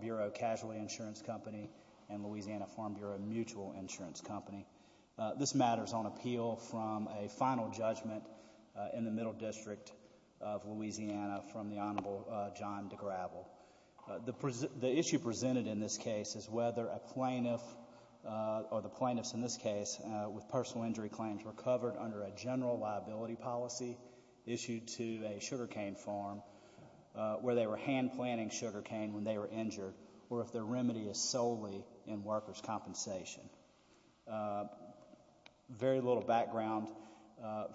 Bureau Casualty Insurance Company and Louisiana Farm Bureau Mutual Insurance Company. This matter is on appeal from a final judgment in the Middle District of Louisiana from the Honorable John DeGravel. The issue presented in this case is whether a plaintiff or the plaintiffs in this case with personal injury claims were covered under a general liability policy issued to a sugarcane farm where they were hand planting sugarcane when they were injured or if their remedy is solely in workers' compensation. Very little background,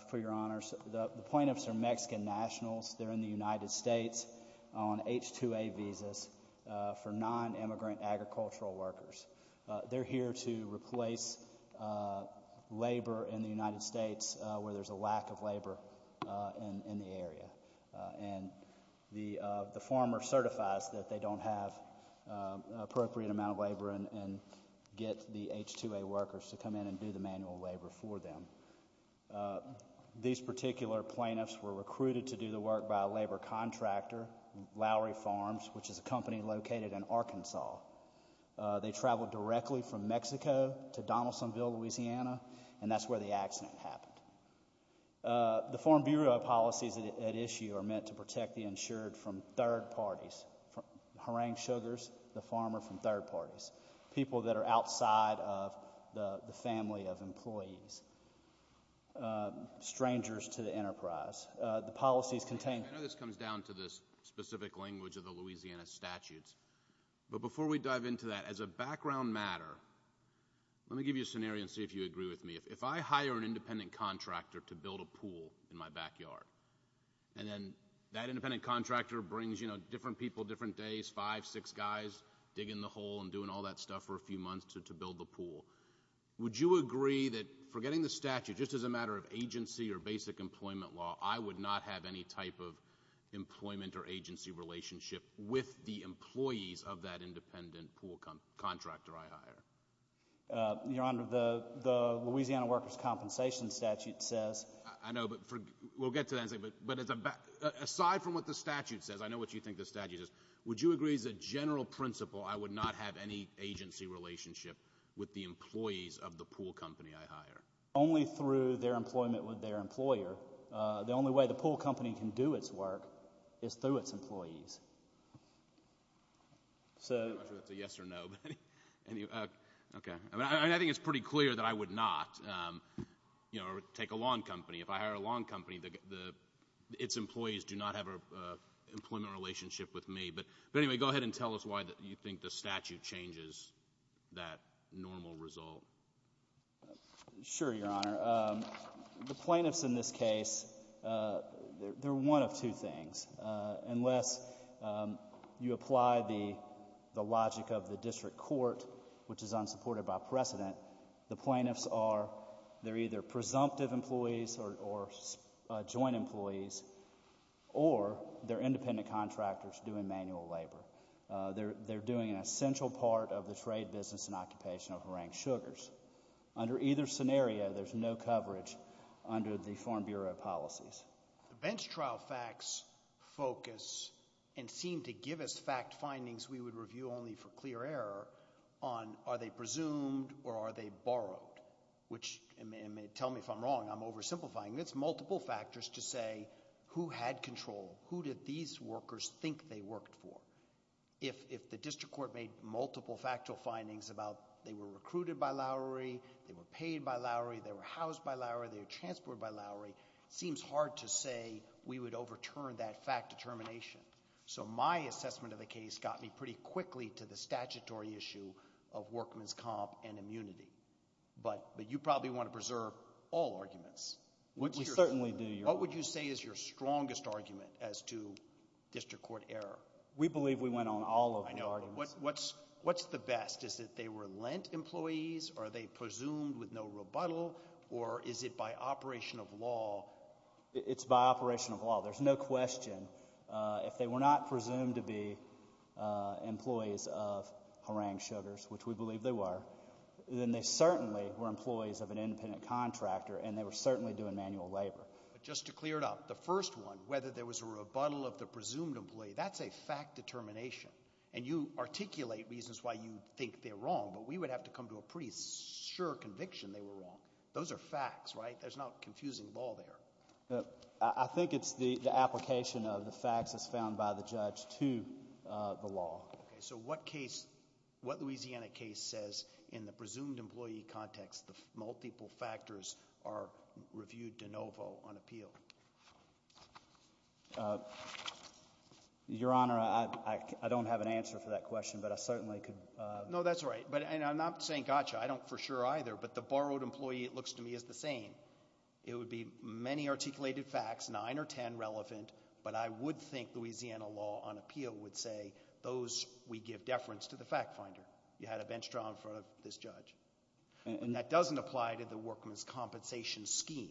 for your honors, the plaintiffs are Mexican nationals, they're in the United States on H-2A visas for non-immigrant agricultural workers. They're here to replace labor in the United States where there's a lack of labor in the area and the farmer certifies that they don't have an appropriate amount of labor and get the H-2A workers to come in and do the manual labor for them. These particular plaintiffs were recruited to do the work by a labor contractor, Lowry Farms, which is a company located in Arkansas. They traveled directly from Mexico to Donaldsonville, Louisiana and that's where the accident happened. The foreign bureau policies at issue are meant to protect the insured from third parties, harangue sugars, the farmer from third parties, people that are outside of the family of employees, strangers to the enterprise. The policies contain- I know this comes down to this specific language of the Louisiana statutes, but before we dive into that, as a background matter, let me give you a scenario and see if you agree with me. If I hire an independent contractor to build a pool in my backyard and then that independent contractor brings, you know, different people, different days, five, six guys digging the hole and doing all that stuff for a few months to build the pool, would you agree that forgetting the statute, just as a matter of agency or basic employment law, I would not have any type of employment or agency relationship with the employees of that independent pool contractor I hire? Your Honor, the Louisiana Workers' Compensation statute says- I know, but we'll get to that in a second, but aside from what the statute says, I know what you think the statute is, would you agree as a general principle I would not have any agency relationship with the employees of the pool company I hire? Only through their employment with their employer. The only way the pool company can do its work is through its employees. I'm not sure if that's a yes or no, but I think it's pretty clear that I would not take a lawn company. If I hire a lawn company, its employees do not have an employment relationship with me. But anyway, go ahead and tell us why you think the statute changes that normal result. Sure, Your Honor. The plaintiffs in this case, they're one of two things. Unless you apply the logic of the district court, which is unsupported by precedent, the plaintiffs are, they're either presumptive employees or joint employees, or they're independent contractors doing manual labor. They're doing an essential part of the trade business and occupation of Rank Sugars. Under either scenario, there's no coverage under the Foreign Bureau policies. The bench trial facts focus and seem to give us fact findings we would review only for clear error on are they presumed or are they borrowed, which tell me if I'm wrong, I'm oversimplifying. It's multiple factors to say who had control, who did these workers think they worked for. If the district court made multiple factual findings about they were recruited by Lowry, they were paid by Lowry, they were housed by Lowry, they were transported by Lowry, seems hard to say we would overturn that fact determination. So my assessment of the case got me pretty quickly to the statutory issue of workman's comp and immunity. But you probably want to preserve all arguments. We certainly do, Your Honor. What would you say is your strongest argument as to district court error? We believe we went on all of the arguments. What's the best? Is it they were lent employees? Are they presumed with no rebuttal? Or is it by operation of law? It's by operation of law. There's no question. If they were not presumed to be employees of Rank Sugars, which we believe they were, then they certainly were employees of an independent contractor and they were certainly doing manual labor. But just to clear it up, the first one, whether there was a rebuttal of the presumed employee, that's a fact determination. And you articulate reasons why you think they're wrong, but we would have to come to a pretty sure conviction they were wrong. Those are facts, right? There's no confusing law there. I think it's the application of the facts as found by the judge to the law. So what case, what Louisiana case says in the presumed employee context, the multiple factors are reviewed de novo on appeal? Your Honor, I don't have an answer for that question, but I certainly could. No, that's right. And I'm not saying gotcha. I don't for sure either, but the borrowed employee, it looks to me, is the same. It would be many articulated facts, nine or ten relevant, but I would think Louisiana law on appeal would say those we give deference to the fact finder. You had a bench trial in front of this judge. And that doesn't apply to the workman's compensation scheme.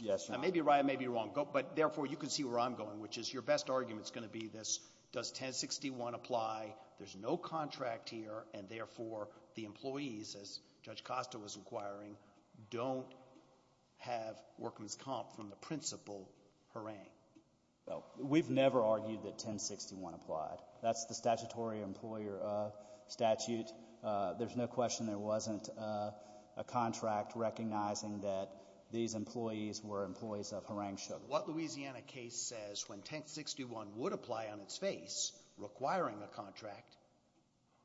Yes, Your Honor. I may be right, I may be wrong, but therefore you can see where I'm going, which is your best argument is going to be this, does 1061 apply? There's no contract here, and therefore the employees, as Judge Costa was inquiring, don't have workman's comp from the principal. Hooray. No, we've never argued that 1061 applied. That's the statutory employer statute. There's no question there wasn't a contract recognizing that these employees were employees of Harang Shook. What Louisiana case says, when 1061 would apply on its face, requiring a contract,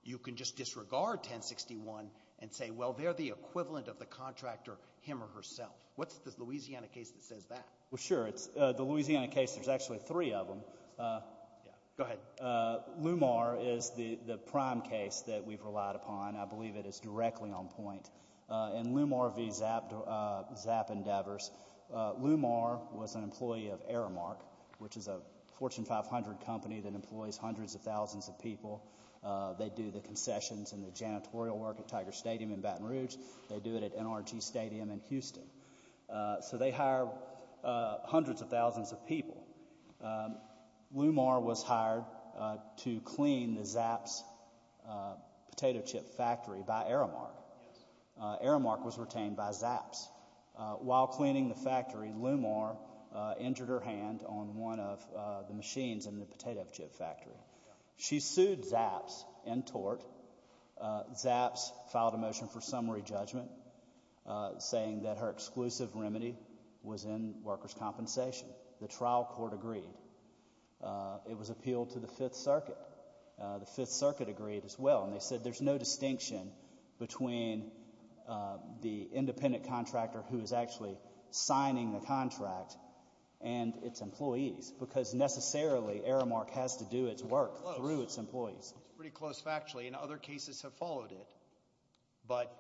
you can just disregard 1061 and say, well, they're the equivalent of the contractor, him or herself. What's the Louisiana case that says that? Well, sure. The Louisiana case, there's actually three of them. Go ahead. Lumar is the prime case that we've relied upon. I believe it is directly on point. In Lumar v. Zapp Endeavors, Lumar was an employee of Aramark, which is a Fortune 500 company that employs hundreds of thousands of people. They do the concessions and the janitorial work at Tiger Stadium in Baton Rouge. They do it at NRG Stadium in Houston. So they hire hundreds of thousands of people. Lumar was hired to clean the Zapp's potato chip factory by Aramark. Aramark was retained by Zapp's. While cleaning the factory, Lumar injured her hand on one of the machines in the potato chip factory. She sued Zapp's and tort. Zapp's filed a motion for summary judgment, saying that her exclusive remedy was in workers' compensation. The trial court agreed. It was appealed to the Fifth Circuit. The Fifth Circuit agreed as well, and they said there's no distinction between the independent contractor who is actually signing the contract and its employees, because necessarily Aramark has to do its work through its employees. It's pretty close factually, and other cases have followed it, but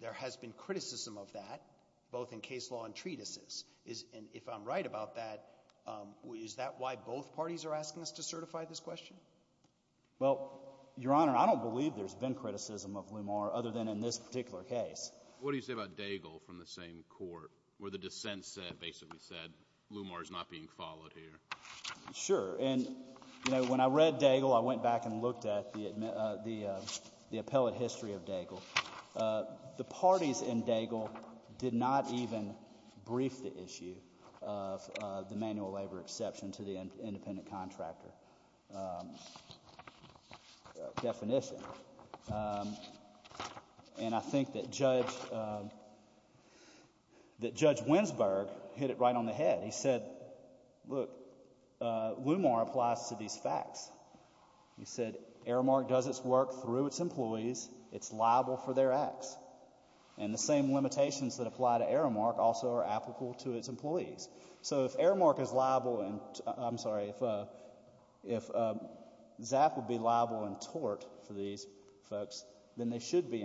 there has been criticism of that, both in case law and treatises. If I'm right about that, is that why both parties are asking us to certify this question? Well, Your Honor, I don't believe there's been criticism of Lumar other than in this particular case. What do you say about Daigle from the same court, where the dissent basically said Lumar is not being followed here? Sure. When I read Daigle, I went back and looked at the appellate history of Daigle. The parties in Daigle did not even brief the issue of the manual labor exception to the independent contractor definition, and I think that Judge Winsberg hit it right on the head. He said, look, Lumar applies to these facts. He said Aramark does its work through its employees. It's liable for their acts. And the same limitations that apply to Aramark also are applicable to its employees. So if Aramark is liable, I'm sorry, if ZAF would be liable in tort for these folks, then they should be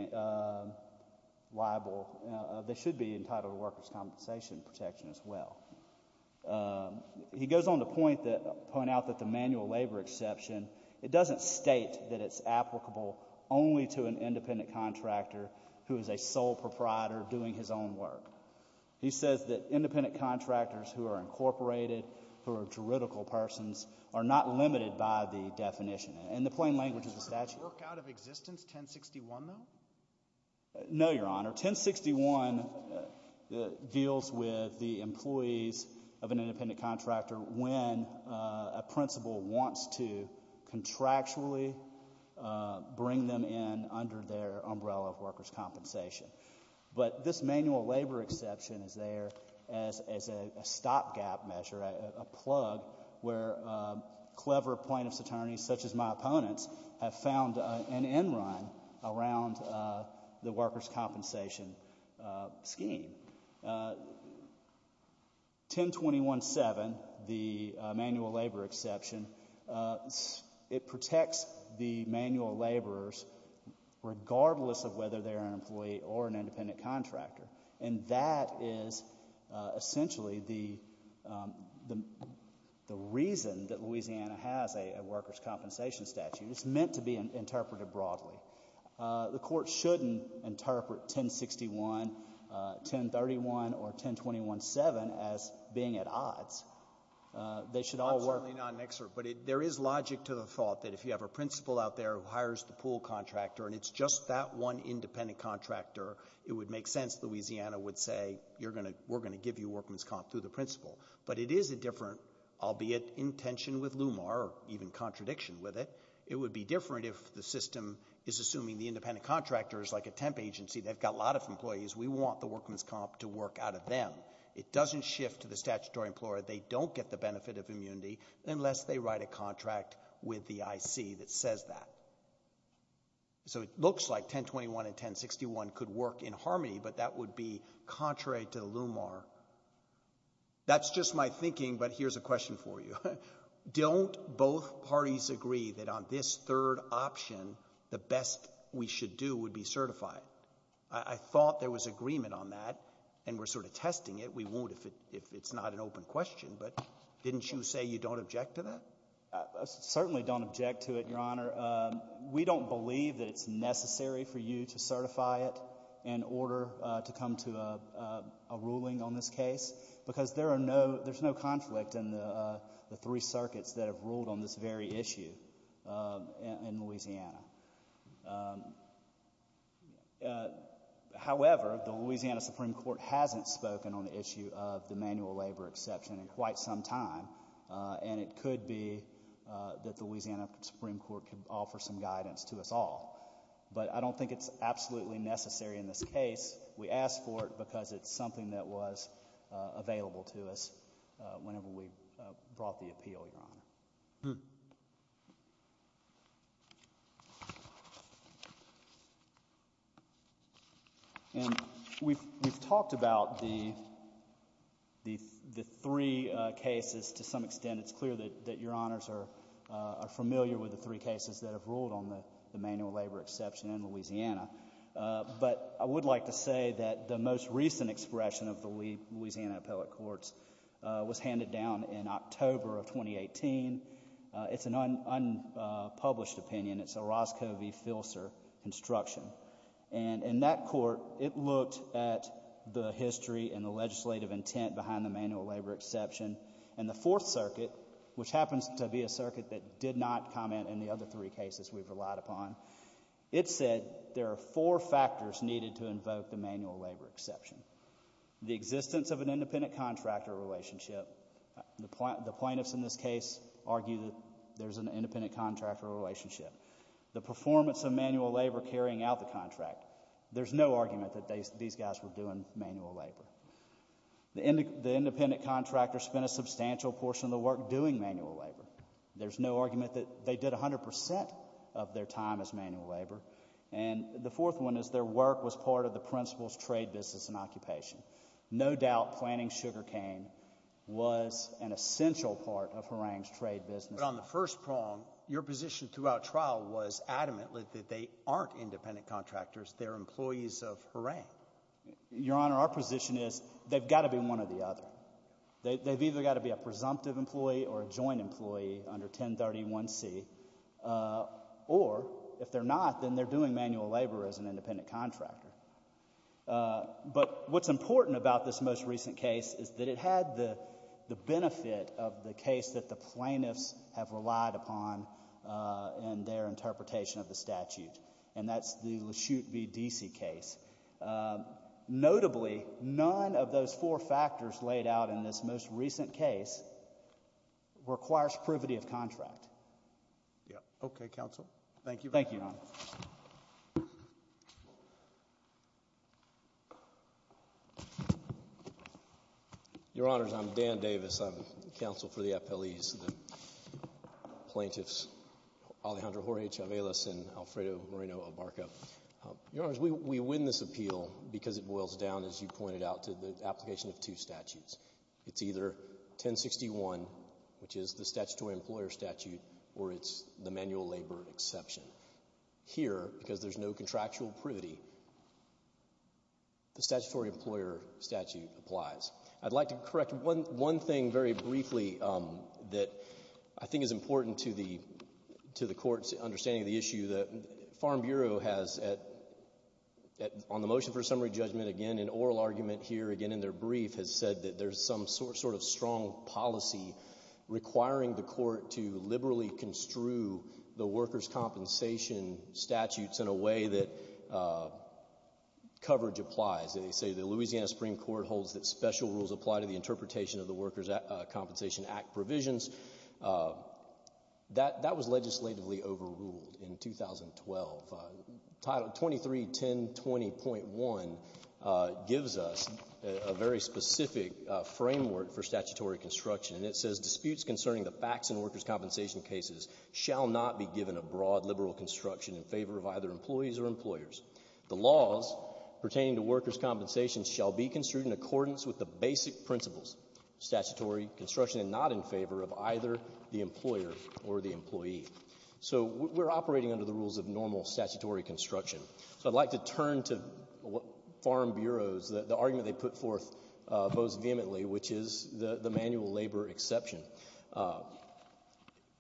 entitled to workers' compensation protection as well. He goes on to point out that the manual labor exception, it doesn't state that it's applicable only to an independent contractor who is a sole proprietor doing his own work. He says that independent contractors who are incorporated, who are juridical persons, are not limited by the definition. In the plain language of the statute. Does that work out of existence, 1061, though? No, Your Honor. 1061 deals with the employees of an independent contractor when a principal wants to contractually bring them in under their umbrella of workers' compensation. But this manual labor exception is there as a stopgap measure, a plug, where clever plaintiffs' attorneys, such as my opponents, have found an end run around the workers' compensation scheme. 1021-7, the manual labor exception, it protects the manual laborers regardless of whether they're an employee or an independent contractor. And that is essentially the reason that Louisiana has a workers' compensation statute. It's meant to be interpreted broadly. The Court shouldn't interpret 1061, 1031, or 1021-7 as being at odds. They should all work. I'm certainly not an expert, but there is logic to the thought that if you have a principal out there who hires the pool contractor and it's just that one independent contractor, it would make sense that Louisiana would say, we're going to give you workman's comp through the principal. But it is a different, albeit in tension with LUMAR or even contradiction with it, it would be different if the system is assuming the independent contractors, like a temp agency, they've got a lot of employees, we want the workman's comp to work out of them. It doesn't shift to the statutory employer. They don't get the benefit of immunity unless they write a contract with the IC that says that. So it looks like 1021 and 1061 could work in harmony, but that would be contrary to LUMAR. That's just my thinking, but here's a question for you. Don't both parties agree that on this third option, the best we should do would be certified? I thought there was agreement on that, and we're sort of testing it. We won't if it's not an open question, but didn't you say you don't object to that? I certainly don't object to it, Your Honor. We don't believe that it's necessary for you to certify it in order to come to a ruling on this case, because there's no conflict in the three circuits that have ruled on this very issue in Louisiana. However, the Louisiana Supreme Court hasn't spoken on the issue of the manual labor exception in quite some time, and it could be that the Louisiana Supreme Court could offer some guidance to us all. But I don't think it's absolutely necessary in this case. We asked for it because it's something that was available to us whenever we brought the appeal, Your Honor. And we've talked about the three cases to some extent. It's clear that Your Honors are familiar with the three cases that have ruled on the manual labor exception in Louisiana, but I would like to say that the most recent expression of the Louisiana appellate courts was handed down in October of 2018. It's an unpublished opinion. It's a Roscoe v. Filser construction, and in that court, it looked at the history and the legislative intent behind the manual labor exception, and the Fourth Circuit, which happens to be a circuit that did not comment in the other three cases we've relied upon, it said there are four factors needed to invoke the manual labor exception. The existence of an independent contractor relationship. The plaintiffs in this case argue that there's an independent contractor relationship. The performance of manual labor carrying out the contract. There's no argument that these guys were doing manual labor. The independent contractor spent a substantial portion of the work doing manual labor. There's no argument that they did 100% of their time as manual labor. And the fourth one is their work was part of the principal's trade business and occupation. No doubt planting sugarcane was an essential part of Horang's trade business. But on the first prong, your position throughout trial was adamantly that they aren't independent contractors. They're employees of Horang. Your Honor, our position is they've got to be one or the other. They've either got to be a presumptive employee or a joint employee under 1031C. Or if they're not, then they're doing manual labor as an independent contractor. But what's important about this most recent case is that it had the benefit of the case that the plaintiffs have relied upon in their interpretation of the statute. And that's the LeChute v. Deasy case. Notably, none of those four factors laid out in this most recent case requires privity of contract. Yeah. Okay, counsel. Thank you. Thank you, Your Honor. Your Honors, I'm Dan Davis. I'm counsel for the appellees, the plaintiffs, Alejandro Jorge Chavez and Alfredo Moreno Abarca. Your Honors, we win this appeal because it boils down, as you pointed out, to the application of two statutes. It's either 1061, which is the statutory employer statute, or it's the manual labor exception. Here, because there's no contractual privity, the statutory employer statute applies. I'd like to correct one thing very briefly that I think is important to the court's understanding of the issue. The Farm Bureau has, on the motion for summary judgment, again, an oral argument here, again, in their brief, has said that there's some sort of strong policy requiring the court to liberally construe the workers' compensation statutes in a way that coverage applies. They say the Louisiana Supreme Court holds that special rules apply to the interpretation of the Workers' Compensation Act provisions. That was legislatively overruled in 2012. Title 231020.1 gives us a very specific framework for statutory construction. It says, disputes concerning the facts in workers' compensation cases shall not be given a broad liberal construction in favor of either employees or employers. The laws pertaining to workers' compensation shall be construed in accordance with the rights of either the employer or the employee. So we're operating under the rules of normal statutory construction. So I'd like to turn to what Farm Bureau's, the argument they put forth most vehemently, which is the manual labor exception.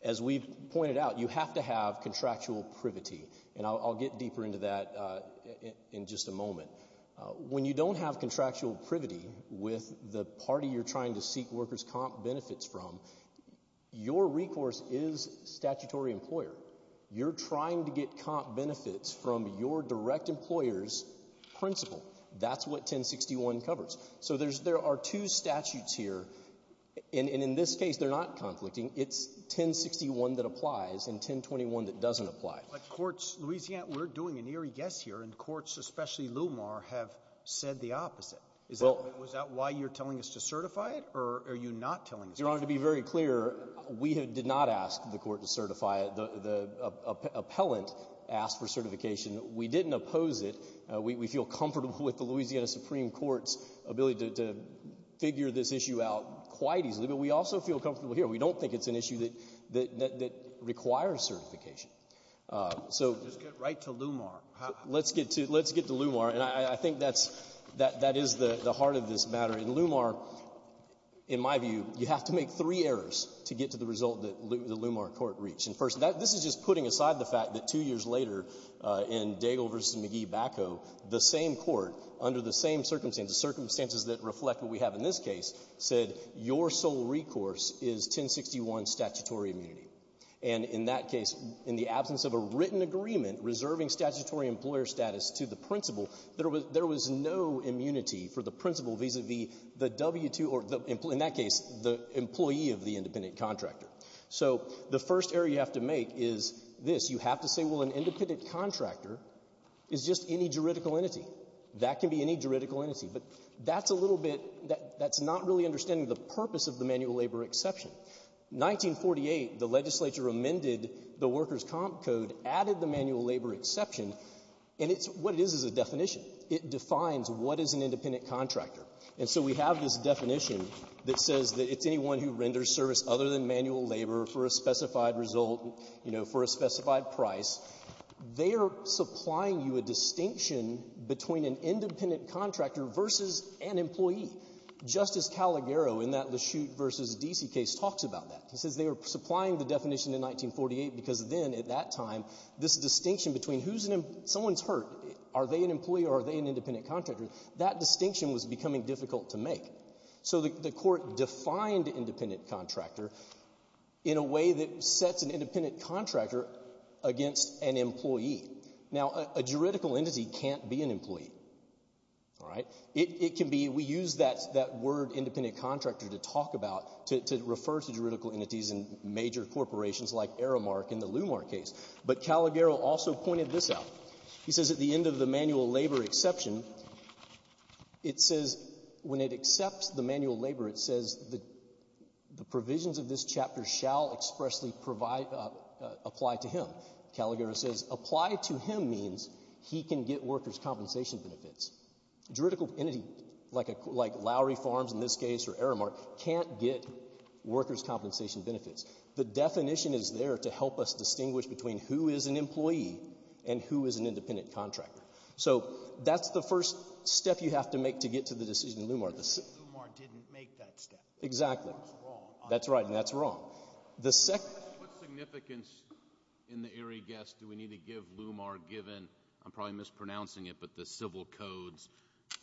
As we've pointed out, you have to have contractual privity, and I'll get deeper into that in just a moment. When you don't have contractual privity with the party you're trying to seek workers' comp benefits from, your recourse is statutory employer. You're trying to get comp benefits from your direct employer's principal. That's what 1061 covers. So there are two statutes here, and in this case they're not conflicting. It's 1061 that applies and 1021 that doesn't apply. But courts, Louisiana, we're doing an eerie guess here, and courts, especially LUMAR, have said the opposite. Is that why you're telling us to certify it, or are you not telling us to certify it? Your Honor, to be very clear, we did not ask the court to certify it. The appellant asked for certification. We didn't oppose it. We feel comfortable with the Louisiana Supreme Court's ability to figure this issue out quite easily, but we also feel comfortable here. We don't think it's an issue that requires certification. So — Just get right to LUMAR. Let's get to — let's get to LUMAR, and I think that's — that is the heart of this matter. In LUMAR, in my view, you have to make three errors to get to the result that the LUMAR court reached. And first, this is just putting aside the fact that two years later in Daigle v. McGee Bacco, the same court, under the same circumstances, circumstances that reflect what we have in this case, said your sole recourse is 1061 statutory immunity. And in that case, in the absence of a written agreement reserving statutory employer status to the principal, there was no immunity for the principal vis-a-vis the W-2 or, in that case, the employee of the independent contractor. So the first error you have to make is this. You have to say, well, an independent contractor is just any juridical entity. That can be any juridical entity. But that's a little bit — that's not really understanding the purpose of the manual labor exception. 1948, the legislature amended the Workers' Comp Code, added the manual labor exception. And it's — what it is is a definition. It defines what is an independent contractor. And so we have this definition that says that it's anyone who renders service other than manual labor for a specified result, you know, for a specified price. They are Caliguero in that Lashute v. D.C. case talks about that. He says they were supplying the definition in 1948 because then, at that time, this distinction between who's an — someone's hurt. Are they an employee or are they an independent contractor? That distinction was becoming difficult to make. So the court defined independent contractor in a way that sets an independent contractor against an employee. All right? It can be — we use that word independent contractor to talk about — to refer to juridical entities in major corporations like Aramark in the Lumar case. But Caliguero also pointed this out. He says at the end of the manual labor exception, it says — when it accepts the manual labor, it says the provisions of this chapter shall expressly provide — apply to him. Caliguero says apply to him means he can get workers' compensation benefits. Juridical entity like Lowry Farms in this case or Aramark can't get workers' compensation benefits. The definition is there to help us distinguish between who is an employee and who is an independent contractor. So that's the first step you have to make to get to the decision in Lumar. Lumar didn't make that step. Exactly. That's wrong. That's right, and that's wrong. The second — What significance in the Erie Guest do we need to give Lumar given — I'm probably mispronouncing it, but the civil code's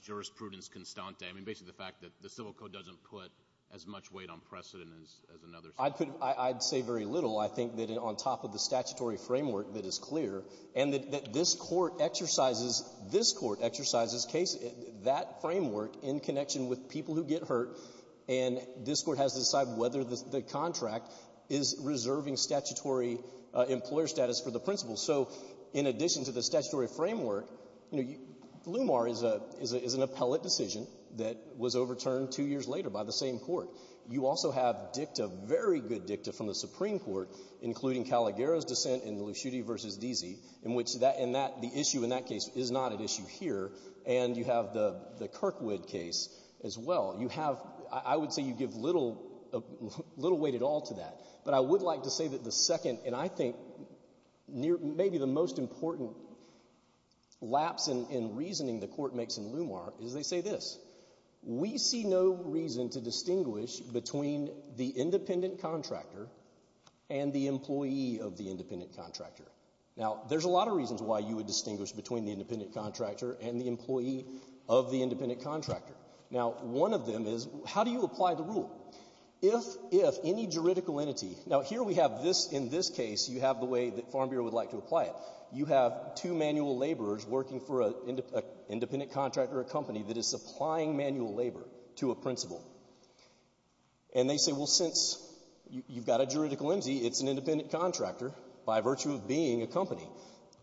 jurisprudence constante — I mean, basically the fact that the civil code doesn't put as much weight on precedent as another state. I'd say very little. I think that on top of the statutory framework that is clear and that this court exercises — this court exercises that framework in connection with people who get hurt, and this court has to decide whether the contract is reserving statutory employer status for the principal. So in addition to the statutory framework, you know, Lumar is an appellate decision that was overturned two years later by the same court. You also have dicta, very good dicta, from the Supreme Court, including Calagaro's dissent in Lushuti v. Deasy, in which that — and that — the issue in that case is not at issue here. And you have the Kirkwood case as well. You have — I would say you give little weight at all to that. But I would like to say that the second, and I think maybe the most important, lapse in reasoning the court makes in Lumar is they say this, we see no reason to distinguish between the independent contractor and the employee of the independent contractor. Now, there's a lot of reasons why you would distinguish between the independent contractor and the employee of the independent contractor. Now, one of them is, how do you apply the rule? If any juridical entity — now, here we have this — in this case, you have the way that Farm Bureau would like to apply it. You have two manual laborers working for an independent contractor, a company that is supplying manual labor to a principal. And they say, well, since you've got a juridical employee, it's an independent contractor by virtue of being a company.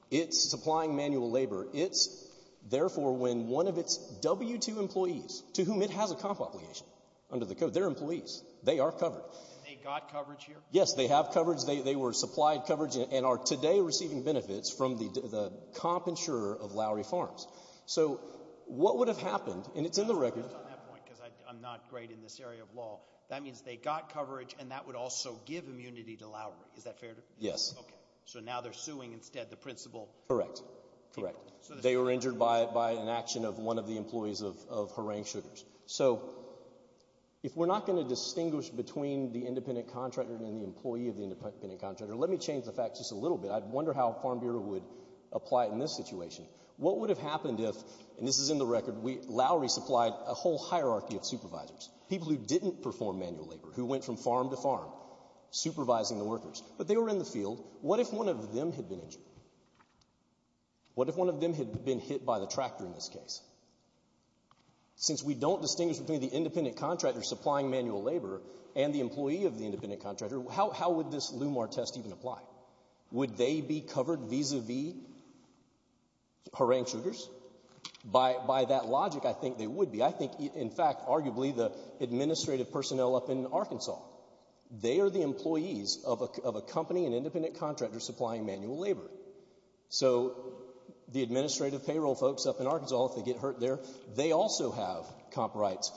It's supplying manual labor. It's, therefore, when one of its W-2 employees, to whom it has a comp obligation under the code, they're employees. They are covered. And they got coverage here? Yes, they have coverage. They were supplied coverage and are today receiving benefits from the comp insurer of Lowry Farms. So what would have happened — and it's in the record — I'm not great in this area of law. That means they got coverage and that would also give immunity to Lowry. Is that fair? Yes. Okay. So now they're suing instead the principal? Correct. Correct. So they were injured by an action of one of the employees of Horang Sugars. So if we're not going to distinguish between the independent contractor and the employee of the independent contractor, let me change the facts just a little bit. I wonder how Farm Bureau would apply it in this situation. What would have happened if — and this is in the record — Lowry supplied a whole hierarchy of supervisors, people who didn't perform manual labor, who went from farm to farm supervising the workers. But they were in the field. What if one of them had been injured? What if one of them had been hit by the tractor in this case? Since we don't distinguish between the independent contractor supplying manual labor and the employee of the independent contractor, how would this LUMAR test even apply? Would they be covered vis-a-vis Horang Sugars? By that logic, I think they would be. I think, in fact, arguably the administrative personnel up in Arkansas, they are the employees of a company, an independent contractor supplying manual labor. So the administrative payroll folks up in Arkansas, if they get hurt there, they also have comp rights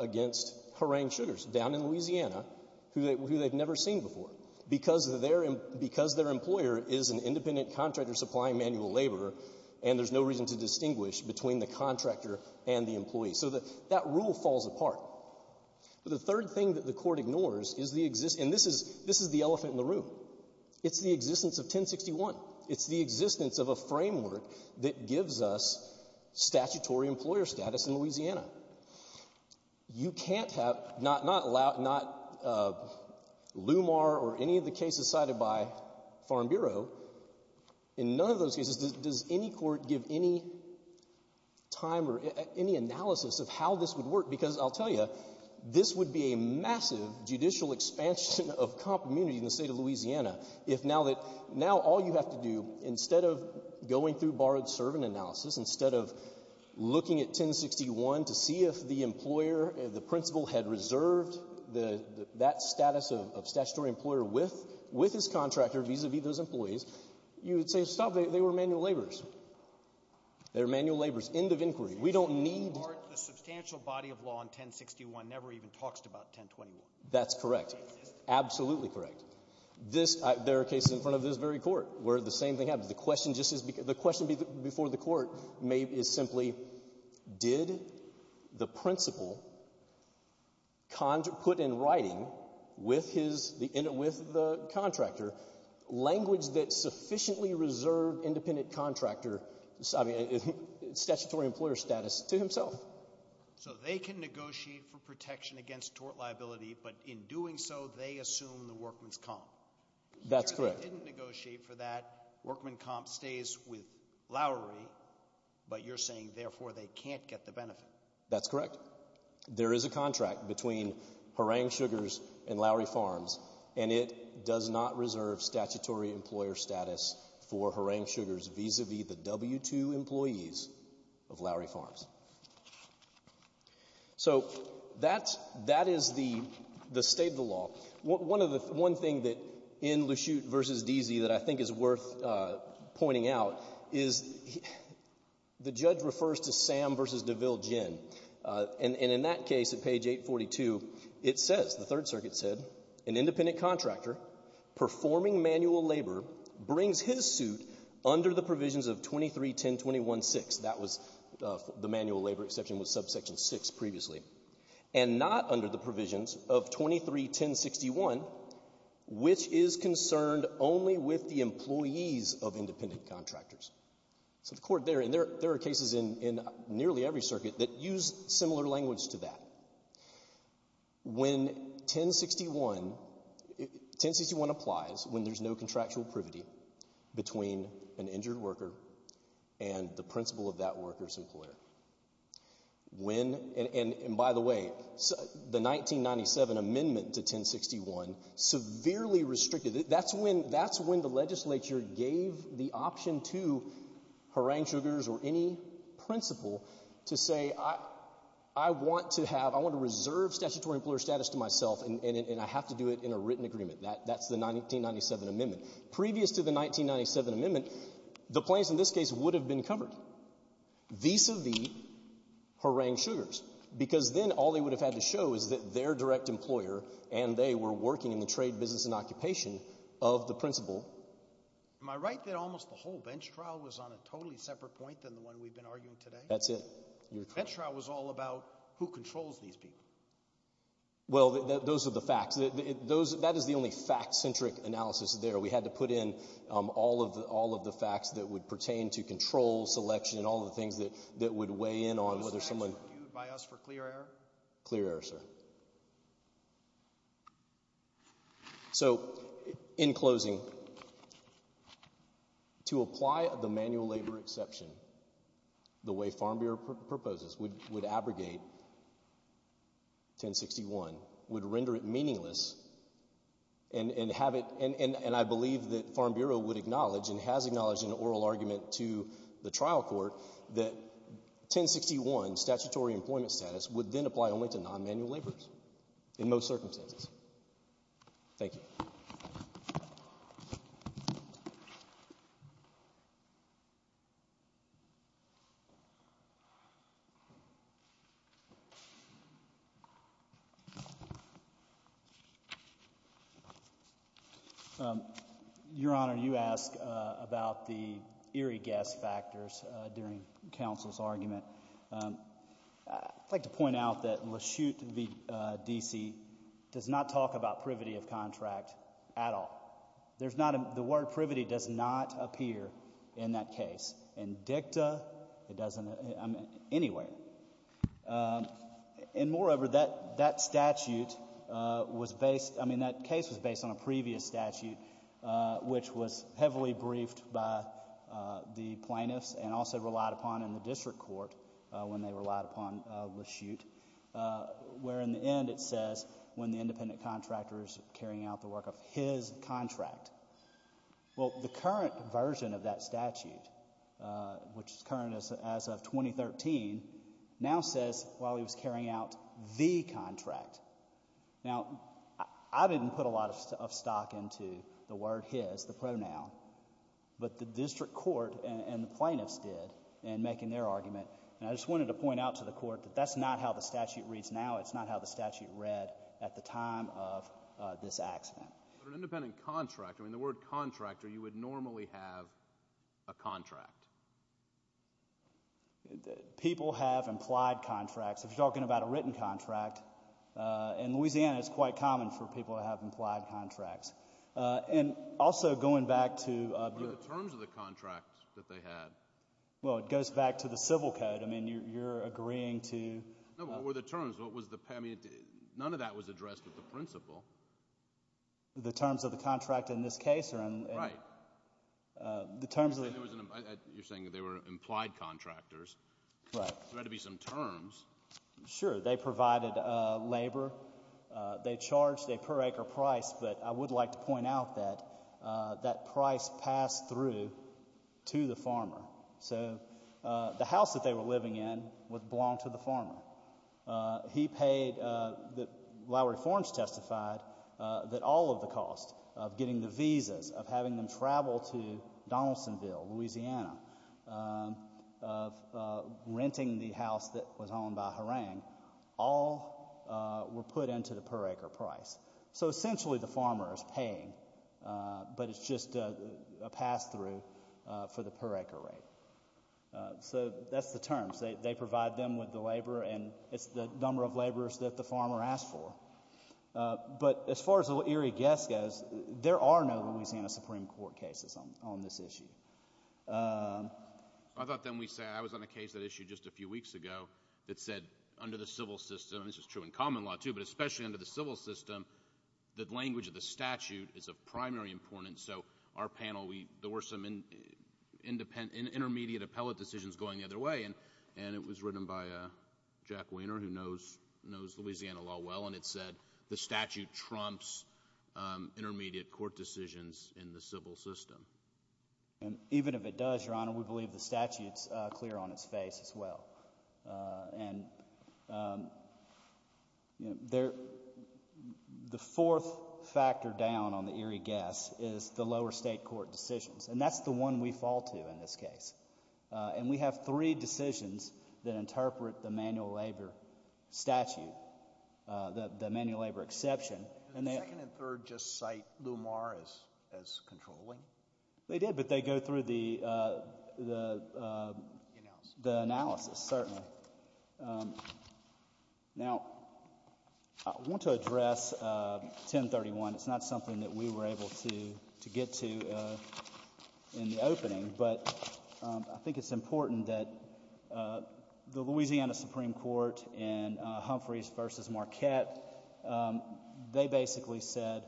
against Horang Sugars down in Louisiana, who they've never seen before. Because their employer is an independent contractor supplying manual labor, and there's no reason to distinguish between the contractor and the employee. So that rule falls apart. The third thing that the court ignores is the — and this is the elephant in the room. It's the existence of 1061. It's the existence of a framework that gives us statutory employer status in Louisiana. You can't have — not LUMAR or any of the cases cited by Farm Bureau. In none of those cases does any court give any time or any analysis of how this would work because, I'll tell you, this would be a massive judicial expansion of comp immunity in the state of Louisiana, if now that — now all you have to do, instead of going through borrowed-servant analysis, instead of looking at 1061 to see if the employer, the principal, had reserved that status of statutory employer with his contractor vis-a-vis those employees, you would say, stop, they were manual laborers. They're manual laborers. End of inquiry. We don't need — The substantial body of law in 1061 never even talks about 1021. That's correct. Absolutely correct. There are cases in front of this very court where the same thing happens. The question just is — the question before the court is simply, did the principal put in writing with the contractor language that sufficiently reserved independent contractor — I mean, statutory employer status to himself? So they can negotiate for protection against tort liability, but in doing so, they assume the workman's comp. That's correct. Here, they didn't negotiate for that. Workman comp stays with Lowry, but you're saying, therefore, they can't get the benefit. That's correct. There is a contract between Harangue Sugars and Lowry Farms, and it does not reserve statutory employer status for Harangue Sugars vis-a-vis the W-2 employees of Lowry Farms. So that is the state of the law. One thing in LeChute v. Deasy that I think is worth pointing out is the judge refers to Sam v. DeVille Gin, and in that case, at page 842, it says — the Third Circuit said — an independent contractor performing manual labor brings his suit under the provisions of 23-1021-6. That was — the manual labor exception was subsection 6 previously. And not under the provisions of 23-1061, which is concerned only with the employees of independent contractors. So the court there — and there are cases in nearly every circuit that use similar language to that. When 1061 — 1061 applies when there's no contractual privity between an injured worker and the principal of that worker's employer. When — and by the way, the 1997 amendment to 1061 severely restricted — that's when the legislature gave the option to Harangue Sugars or any principal to say, I want to have — I want to reserve statutory employer status to myself, and I have to do it in a written agreement. That's the 1997 amendment. Previous to the 1997 amendment, the plaintiffs in this case would have been covered vis-a-vis Harangue Sugars, because then all they would have had to show is that their direct employer and they were working in the trade, business, and occupation of the principal. Am I right that almost the whole bench trial was on a totally separate point than the one we've been arguing today? That's it. Your — The bench trial was all about who controls these people. Well, those are the facts. That is the only fact-centric analysis there. We had to put in all of the facts that would pertain to control, selection, and all the things that would weigh in on whether someone — Those facts were viewed by us for clear error? Clear error, sir. So, in closing, to apply the manual labor exception the way Farm Bureau proposes would abrogate 1061, would render it meaningless, and have it — and I believe that Farm Bureau would acknowledge and has acknowledged in an oral argument to the trial court that 1061, statutory employment status, would then apply only to non-manual laborers in most circumstances. Thank you. Your Honor, you asked about the eerie gas factors during counsel's argument. I'd like to point out that Lashute v. D.C. does not talk about privity of contract at all. There's not a — the word privity does not appear in that case. And dicta, it doesn't — I mean, anyway. And moreover, that statute was based — I mean, that case was based on a previous statute which was heavily briefed by the plaintiffs and also relied upon in the district court when they relied upon Lashute, where in the end it says, when the independent contractor is carrying out the work of his contract. Well, the current version of that statute, which is current as of 2013, now says while he was carrying out the contract. Now, I didn't put a lot of stock into the word his, the pronoun, but the district court and the plaintiffs did in making their argument. And I just wanted to point out to the court that that's not how the statute reads now. It's not how the statute read at the time of this accident. An independent contractor — I mean, the word contractor, you would normally have a contract. People have implied contracts. If you're talking about a written contract, in Louisiana it's quite common for people to have implied contracts. And also, going back to — What are the terms of the contract that they had? Well, it goes back to the civil code. I mean, you're agreeing to — No, what were the terms? What was the — I mean, none of that was addressed at the principal. The terms of the contract in this case are — Right. The terms of — You're saying that they were implied contractors. Correct. There had to be some terms. Sure. They provided labor. They charged a per-acre price. But I would like to point out that that price passed through to the farmer. So the house that they were living in belonged to the farmer. He paid — the law reforms testified that all of the costs of getting the visas, of having them travel to Donaldsonville, Louisiana, of renting the house that was owned by Harang, all were put into the per-acre price. So essentially, the farmer is paying, but it's just a pass-through for the per-acre rate. So that's the terms. They provide them with the labor, and it's the number of laborers that the farmer asked for. But as far as the Erie Guess goes, there are no Louisiana Supreme Court cases on this issue. I thought then we said — I was on a case that issued just a few weeks ago that said under the civil system — and this is true in common law, too — but especially under the civil system, the language of the statute is of primary importance. So our panel, we — there were some intermediate appellate decisions going the other way, and it was written by Jack Wehner, who knows Louisiana law well, and it said the statute trumps intermediate court decisions in the civil system. And even if it does, Your Honor, we believe the statute's clear on its face as well. And, you know, the fourth factor down on the Erie Guess is the lower state court decisions, and that's the one we fall to in this case. And we have three decisions that interpret the manual labor statute, the manual labor exception. And the second and third just cite Lumar as controlling? They did, but they go through the analysis, certainly. Now, I want to address 1031. It's not something that we were able to get to in the opening, but I think it's important that the Louisiana Supreme Court in Humphreys v. Marquette, they basically said,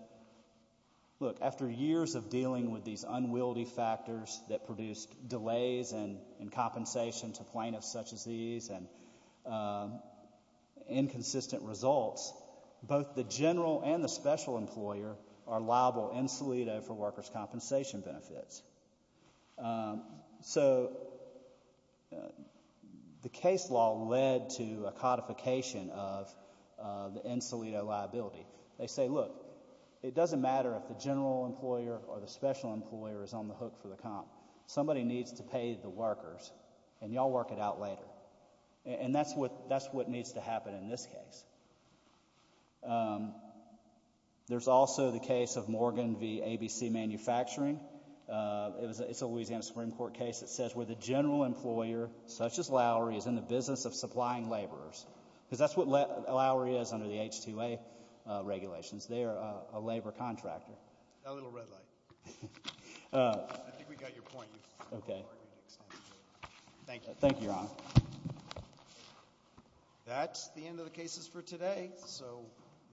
look, after years of dealing with these unwieldy factors that produced delays in compensation to plaintiffs such as these and inconsistent results, both the general and the special employer are liable in solido for workers' compensation benefits. So the case law led to a codification of the in solido liability. They say, look, it doesn't matter if the general employer or the special employer is on the hook for the comp. Somebody needs to pay the workers, and y'all work it out later. And that's what needs to happen in this case. There's also the case of Morgan v. ABC Manufacturing. It's a Louisiana Supreme Court case that says where the general employer, such as Lowry, is in the business of supplying laborers, because that's what Lowry is under the H-2A regulations. They are a labor contractor. That little red light. I think we got your point. You've already extended it. Thank you. Thank you, Your Honor. That's the end of the cases for today. So.